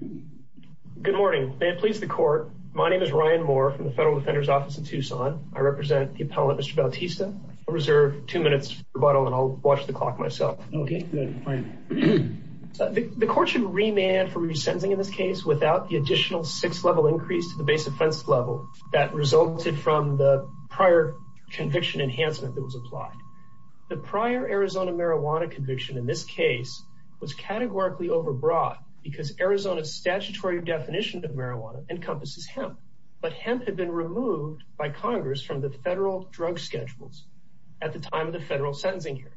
Good morning, may it please the court. My name is Ryan Moore from the Federal Defender's Office in Tucson. I represent the appellant Mr. Bautista. I'll reserve two minutes rebuttal and I'll watch the clock myself. The court should remand for resentencing in this case without the additional six level increase to the base offense level that resulted from the prior conviction enhancement that was applied. The prior Arizona marijuana conviction in this case was categorically overbrought because Arizona's statutory definition of marijuana encompasses hemp. But hemp had been removed by Congress from the federal drug schedules at the time of the federal sentencing hearing.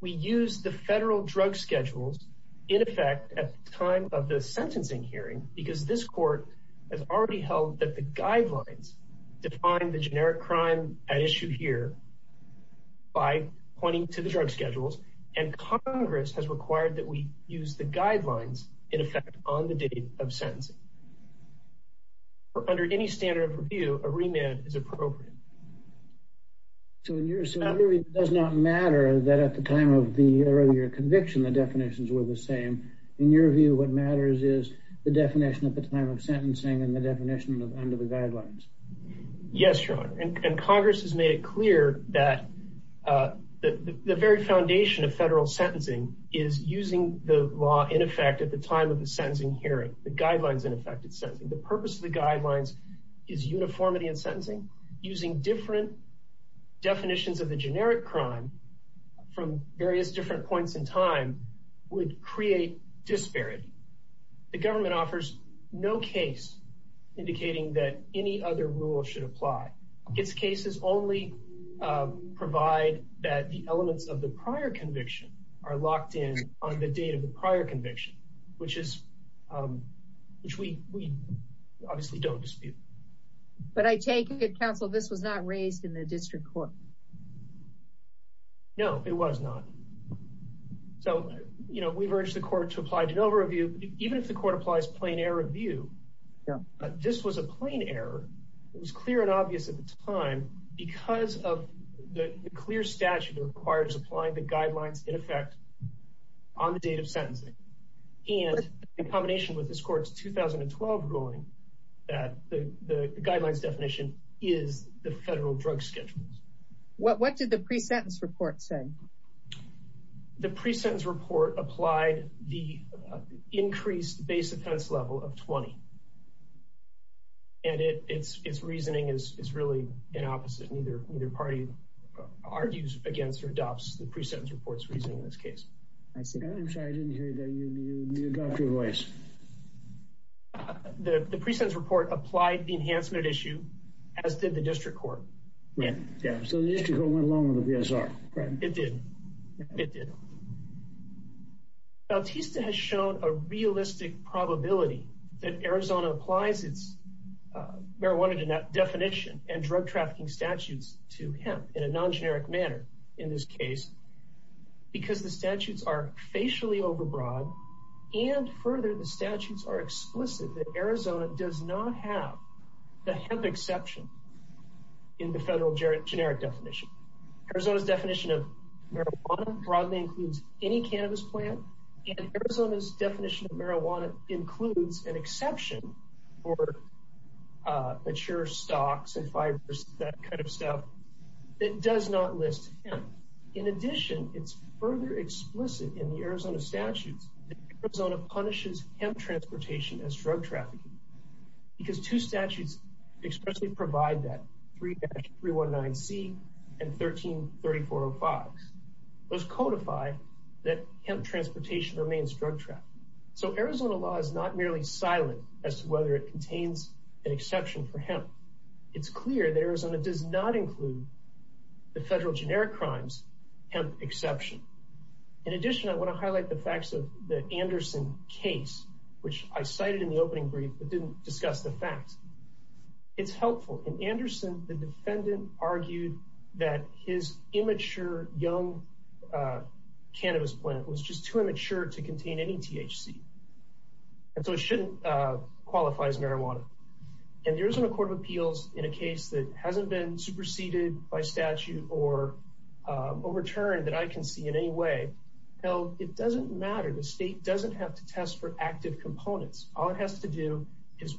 We use the federal drug schedules in effect at time of the sentencing hearing because this court has already held that the guidelines define the generic crime at issue here by pointing to the drug schedules and Congress has required that we use the guidelines in effect on the date of sentencing. Under any standard of review, a remand is appropriate. So in your view, it does not matter that at the time of the earlier conviction the definitions were the same. In your view, what matters is the definition at the time of sentencing and the definition under the guidelines. Yes, your honor, and the very foundation of federal sentencing is using the law in effect at the time of the sentencing hearing, the guidelines in effect at sentencing. The purpose of the guidelines is uniformity in sentencing. Using different definitions of the generic crime from various different points in time would create disparity. The government offers no case indicating that any other rule should apply. Its cases only provide that the elements of the prior conviction are locked in on the date of the prior conviction, which we obviously don't dispute. But I take it, counsel, this was not raised in the district court. No, it was not. So, you know, we've urged the court to apply de novo review. Even if the court applies plain error review, this was a plain error. It was clear and obvious at the time because of the clear statute required as applying the guidelines in effect on the date of sentencing and in combination with this court's 2012 ruling that the guidelines definition is the federal drug schedules. What did the pre-sentence report say? The pre-sentence report applied the increased base offense level of 20. And its reasoning is really inopposite. Neither party argues against or adopts the pre-sentence report's reasoning in this case. I'm sorry, I didn't hear you. You need to adopt your voice. The pre-sentence report applied the enhancement issue, as did the district court. Yeah, so the district court went along with the PSR, correct? It did. It did. Bautista has shown a realistic probability that Arizona applies its marijuana definition and drug trafficking statutes to hemp in a non-generic manner in this case because the statutes are facially overbroad and further the statutes are explicit that Arizona does not have the hemp exception in the federal generic definition. Arizona's definition of marijuana broadly includes any cannabis plant and Arizona's definition of marijuana includes an exception for mature stocks and fibers, that kind of stuff, that does not list hemp. In addition, it's further explicit in the Arizona statutes that Arizona punishes hemp transportation as drug trafficking because two statutes expressly provide that, 3-319C and 13-3405. Those codify that hemp transportation remains drug trafficking. So Arizona law is not merely silent as to whether it contains an exception for hemp. It's clear that Arizona does not include the federal generic crimes hemp exception. In addition, I want to highlight the facts of the Anderson case, which I cited in the opening brief but I didn't discuss the facts. It's helpful. In Anderson, the defendant argued that his immature young cannabis plant was just too immature to contain any THC and so it shouldn't qualify as marijuana. And there isn't a court of appeals in a case that hasn't been superseded by statute or overturned that I can see in any way. Now, it doesn't matter. The state doesn't have to test for active components. All it has to do is,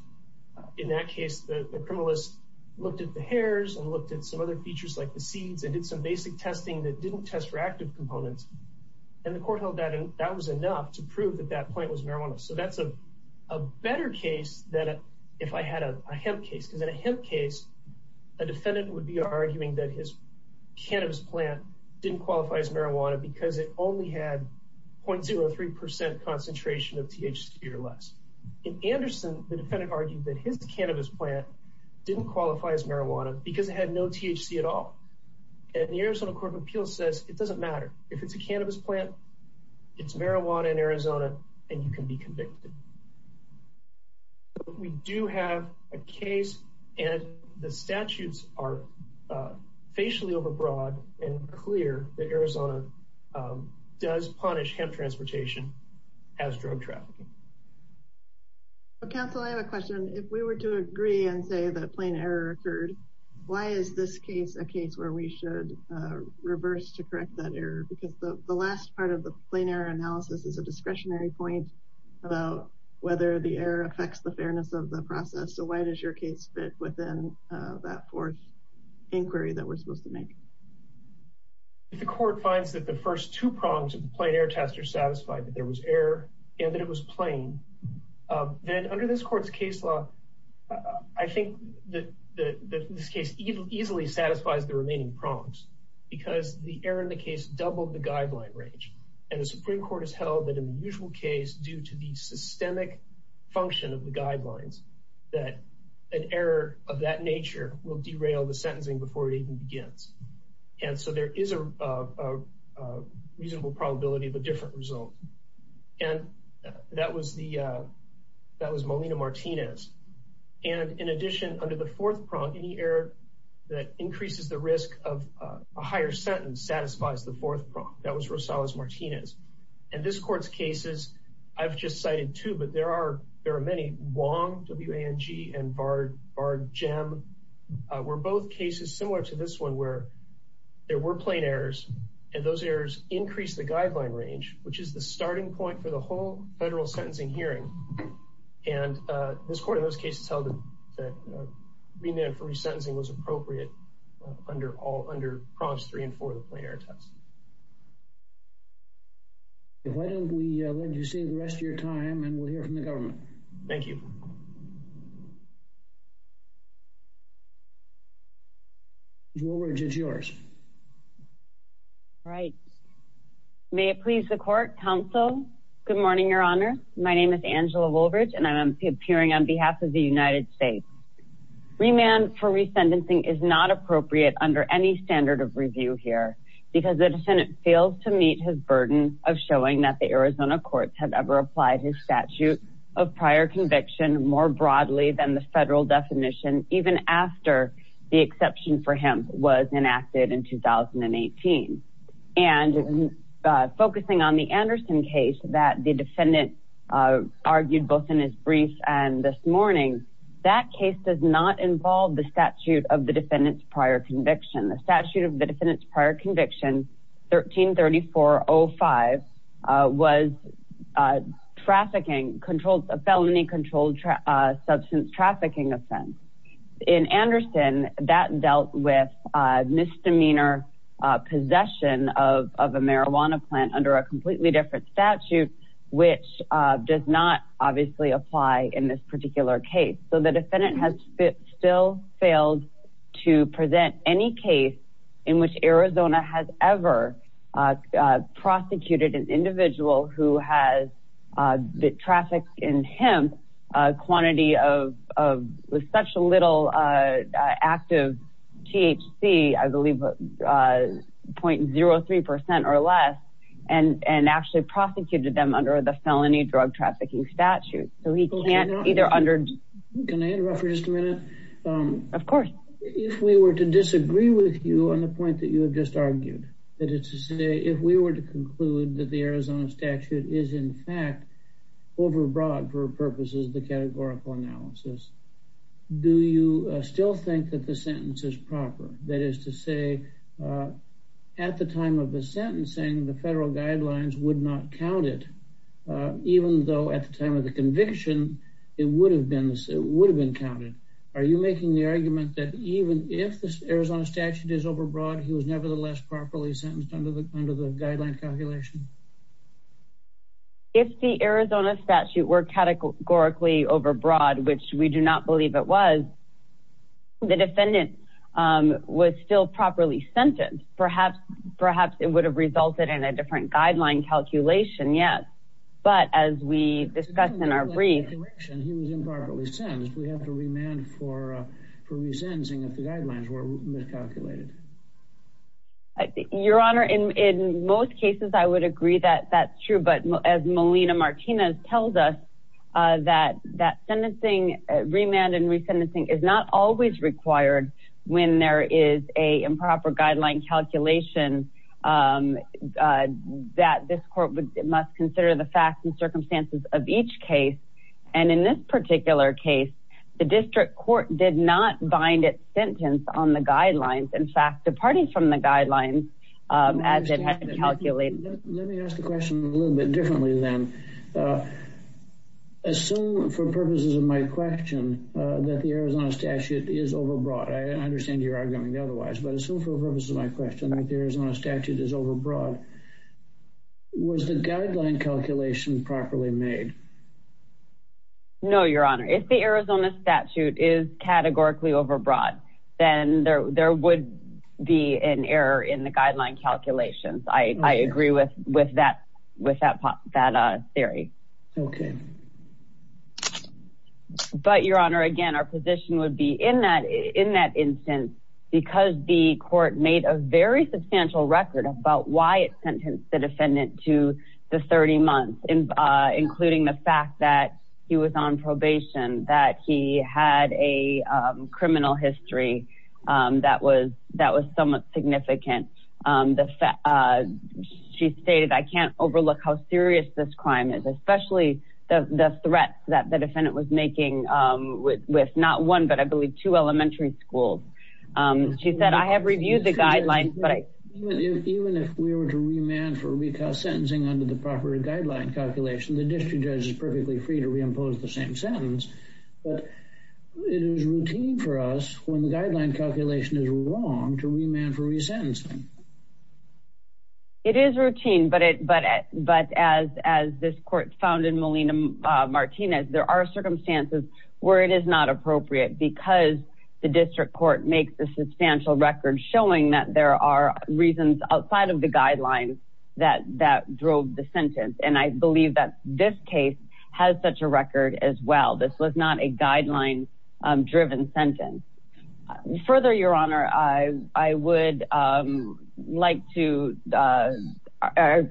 in that case, the criminalist looked at the hairs and looked at some other features like the seeds and did some basic testing that didn't test for active components. And the court held that and that was enough to prove that that plant was marijuana. So that's a better case than if I had a hemp case. Because in a hemp case, a defendant would be arguing that his cannabis plant didn't qualify as marijuana because it only had 0.03% concentration of THC or less. In Anderson, the defendant argued that his cannabis plant didn't qualify as marijuana because it had no THC at all. And the Arizona Court of Appeals says it doesn't matter. If it's a cannabis plant, it's marijuana in Arizona and you can be convicted. We do have a case and the statutes are facially overbroad and clear that Arizona does punish hemp transportation as drug trafficking. Council, I have a question. If we were to agree and say that plain error occurred, why is this case a case where we should reverse to correct that error? Because the last part of the plain error analysis is a discretionary point about whether the error affects the fairness of the process. So why does your case fit within that fourth inquiry that we're supposed to make? If the court finds that the first two prongs of the plain error test are satisfied that there was error and that it was plain, then under this court's case law, I think that this case easily satisfies the remaining prongs because the error in the case doubled the guideline range. And the Supreme Court has held that in the usual case due to the systemic function of the guidelines that an error of that nature will derail the sentencing before it even begins. And so there is a reasonable probability of a different result. And that was the that was Molina Martinez. And in addition, under the fourth prong, any error that increases the risk of a higher sentence satisfies the fourth prong. That was Rosales Martinez. And this court's cases, I've just cited two, but there are there are many. Wong, W-A-N-G and Bard, Bard, Jem, were both cases similar to this one where there were plain errors and those errors increased the guideline range, which is the starting point for the whole federal sentencing hearing. And this court in those cases held that remand for resentencing was appropriate under all under prompts three and four of the plain error test. Why don't we let you see the rest of your time and we'll hear from the government. Thank you. Woolbridge is yours. All right. May it please the court, counsel. Good morning, Your Honor. My name is Angela Woolbridge and I'm appearing on behalf of the United States. Remand for resentencing is not appropriate under any standard of review here because the defendant fails to meet his burden of showing that the Arizona courts have ever applied his statute of prior conviction more broadly than the exception for him was enacted in 2018. And focusing on the Anderson case that the defendant argued both in his brief and this morning, that case does not involve the statute of the defendant's prior conviction. The statute of the defendant's prior conviction, 13-3405, was a felony controlled substance trafficking offense. In Anderson, that dealt with misdemeanor possession of a marijuana plant under a completely different statute, which does not obviously apply in this particular case. So the defendant has still failed to present any case in which Arizona has ever prosecuted an individual who has the traffic in him, a quantity of such a little active THC, I believe, 0.03% or less, and actually prosecuted them under the felony drug trafficking statute. So he can't either under... Can I interrupt for just a minute? Of course. If we were to disagree with you on the point that you have just argued, that overbroad for purposes of the categorical analysis, do you still think that the sentence is proper? That is to say, at the time of the sentencing, the federal guidelines would not count it, even though at the time of the conviction, it would have been counted. Are you making the argument that even if the Arizona statute is overbroad, he was nevertheless properly sentenced under the guideline calculation? If the Arizona statute were categorically overbroad, which we do not believe it was, the defendant was still properly sentenced. Perhaps it would have resulted in a different guideline calculation, yes. But as we discussed in our brief... He was improperly sentenced. We have to remand for resensing if the guidelines were miscalculated. Your Honor, in most cases, I would agree that that's true. But as Molina Martinez tells us, that remand and resensing is not always required when there is a improper guideline calculation, that this court must consider the facts and circumstances of each case. And in this particular case, the fact departing from the guidelines as it had been calculated. Let me ask the question a little bit differently then. Assume for purposes of my question, that the Arizona statute is overbroad. I understand you're arguing otherwise. But assume for purposes of my question that the Arizona statute is overbroad. Was the guideline calculation properly made? No, Your Honor. If the Arizona statute is categorically overbroad, then there would be an error in the guideline calculations. I agree with that theory. But Your Honor, again, our position would be in that instance, because the court made a very substantial record about why it sentenced the defendant to the 30 months, including the fact that he was on probation, that he had a that was somewhat significant. She stated, I can't overlook how serious this crime is, especially the threats that the defendant was making with not one, but I believe two elementary schools. She said, I have reviewed the guidelines. Even if we were to remand for sentencing under the proper guideline calculation, the district judge is perfectly free to reimpose the same wrong to remand for re-sentencing. It is routine, but as this court found in Molina Martinez, there are circumstances where it is not appropriate because the district court makes a substantial record showing that there are reasons outside of the guidelines that drove the sentence. And I believe that this case has such a record as well. This was not a guideline-driven sentence. Further, Your Honor, I would like to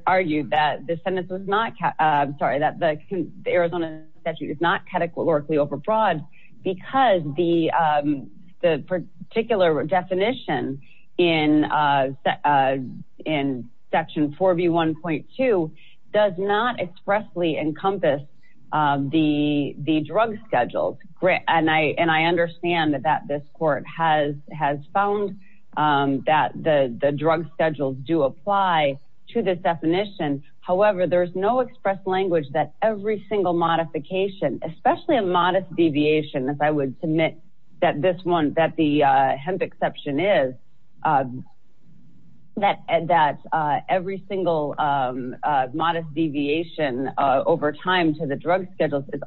argue that the Arizona statute is not categorically overbroad because the particular definition in section 4B1.2 does not expressly encompass the drug schedules. And I understand that this court has found that the drug schedules do apply to this definition. However, there is no express language that every single modification, especially a modest deviation, as I would submit that the hemp exception is, that every single modest deviation over time to the drug schedules is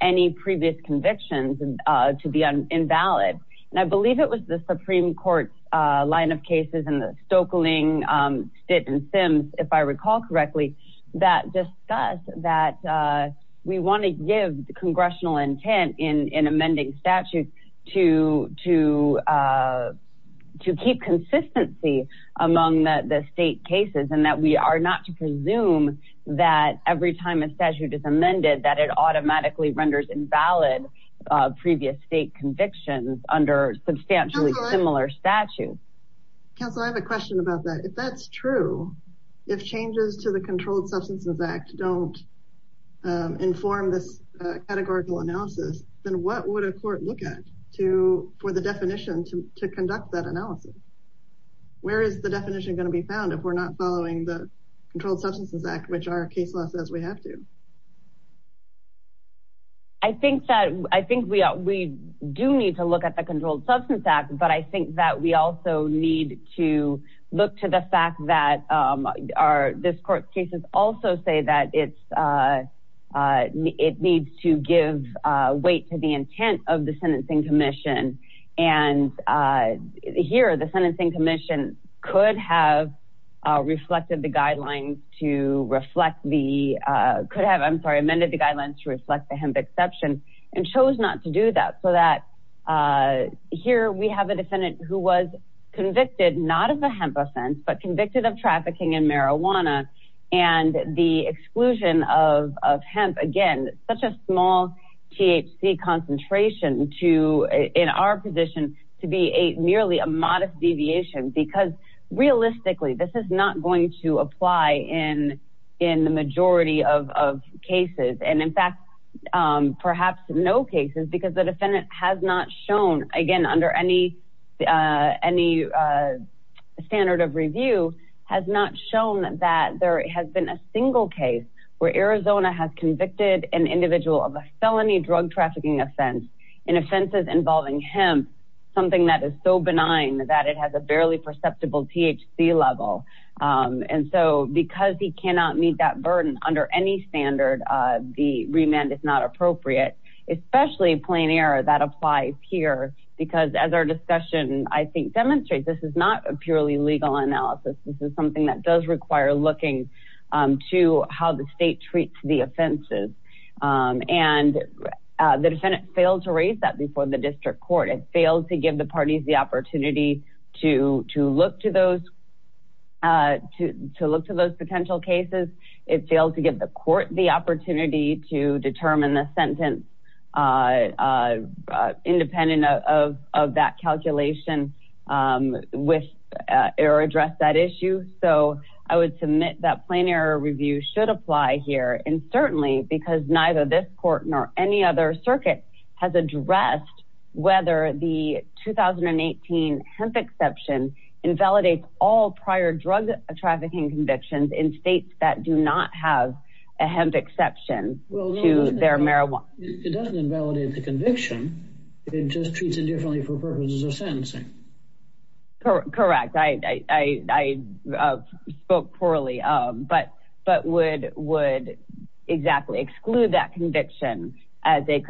any previous convictions to be invalid. And I believe it was the Supreme Court's line of cases in the Stoeckling, Stitt, and Sims, if I recall correctly, that discussed that we want to give the congressional intent in amending statutes to keep consistency among the state cases and that we are not to automatically render invalid previous state convictions under substantially similar statutes. Counsel, I have a question about that. If that's true, if changes to the Controlled Substances Act don't inform this categorical analysis, then what would a court look at for the definition to conduct that analysis? Where is the definition going to be found if we're not following the Controlled Substances Act, which our case law says we have to? I think that, I think we do need to look at the Controlled Substances Act, but I think that we also need to look to the fact that this court's cases also say that it needs to give weight to the intent of the sentencing commission. And here, the sentencing commission could have reflected the guidelines to reflect the, could have, I'm sorry, amended the guidelines to reflect the hemp exception and chose not to do that. So that here we have a defendant who was convicted, not of a hemp offense, but convicted of trafficking in marijuana. And the exclusion of hemp, again, such a small THC concentration to, in our position, to be a merely a modest deviation because realistically this is not going to apply in the majority of cases. And in fact, perhaps no cases because the defendant has not shown, again, under any standard of review, has not shown that there has been a single case where Arizona has convicted an individual of a felony drug trafficking offense in offenses involving hemp, something that is so benign that it has a barely perceptible THC level. And so because he cannot meet that burden under any standard, the remand is not appropriate, especially plain error that applies here, because as our discussion, I think, demonstrates, this is not a purely legal analysis. This is something that does require looking to how the state treats the offenses. And the defendant failed to raise that before the district court. It failed to give the parties the opportunity to look to those potential cases. It failed to give the court the opportunity to determine the sentence independent of that calculation with or address that issue. So I would submit that plain error review should apply here. And certainly because neither this court nor any other circuit has addressed whether the 2018 hemp exception invalidates all prior drug trafficking convictions in states that do not have a hemp exception to their marijuana. It doesn't invalidate the conviction. It just treats it differently for purposes of sentencing. Correct. I spoke poorly, but would exactly exclude that conviction as a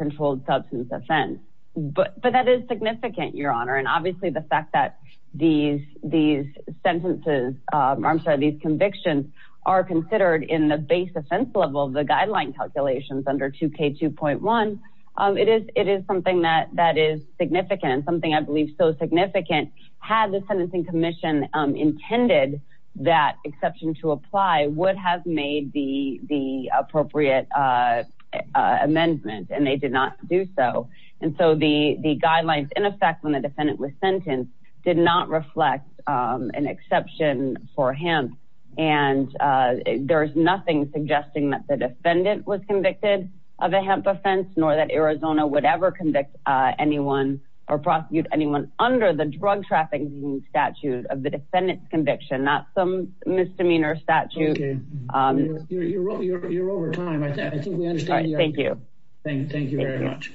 but that is significant, Your Honor. And obviously the fact that these sentences, I'm sorry, these convictions are considered in the base offense level of the guideline calculations under 2K2.1, it is something that is significant and something I believe so significant had the Sentencing Commission intended that exception to apply would have made the guidelines in effect when the defendant was sentenced did not reflect an exception for hemp. And there's nothing suggesting that the defendant was convicted of a hemp offense nor that Arizona would ever convict anyone or prosecute anyone under the drug trafficking statute of the defendant's conviction, not some misdemeanor statute. You're over time. I think we understand. Thank you. Thank you very much.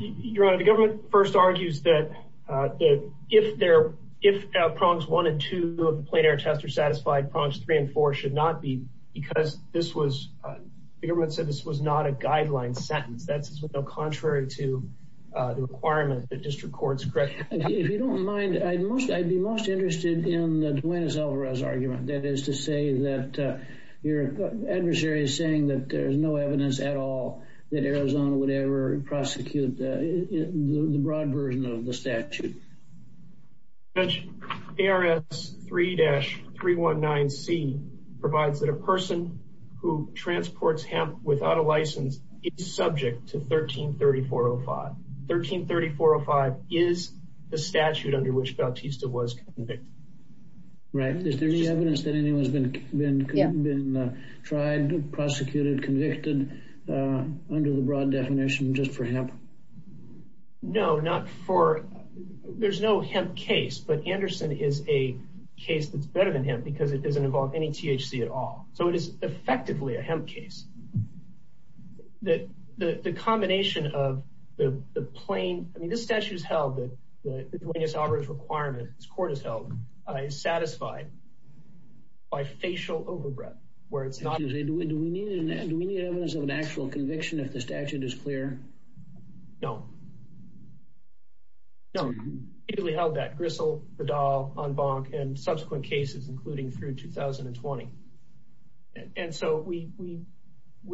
Your Honor, the government first argues that if prongs one and two of the plain air test are satisfied, prongs three and four should not be because this was, the government said this was not a guideline sentence. That's contrary to the requirement that district courts correct. If you don't mind, I'd be most interested in the Duenas-Alvarez argument. That is to say that your adversary is saying that there's no evidence at all that Arizona would ever prosecute the broad version of the statute. Judge, ARS 3-319C provides that a person who transports hemp without a license is subject to 13-3405. 13-3405 is the statute under which Bautista was convicted. Right. Is there any evidence that anyone's been tried, prosecuted, convicted under the broad definition just for hemp? No, not for, there's no hemp case, but Anderson is a case that's better than hemp because it doesn't involve any THC at all. So it is effectively a that the combination of the plain, I mean, this statute is held that the Duenas-Alvarez requirement, this court has held, is satisfied by facial overbreath where it's not. Do we need evidence of an actual conviction if the statute is clear? No. No. We held that, Gristle, Vidal, Unbonk and subsequent cases, including through 2020. And so we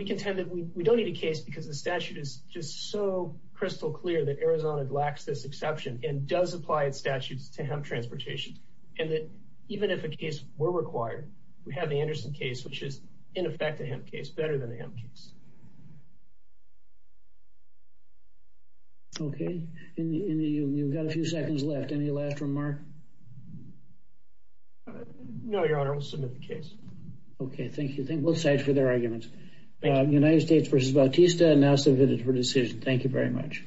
contend that we don't need a case because the statute is just so crystal clear that Arizona lacks this exception and does apply its statutes to hemp transportation. And that even if a case were required, we have the Anderson case, which is in effect a hemp case, better than a hemp case. Okay. You've got a few seconds left. Any last remark? No, Your Honor. We'll submit the case. Okay. Thank you. Thank both sides for their arguments. United States v. Bautista now submitted for decision. Thank you very much.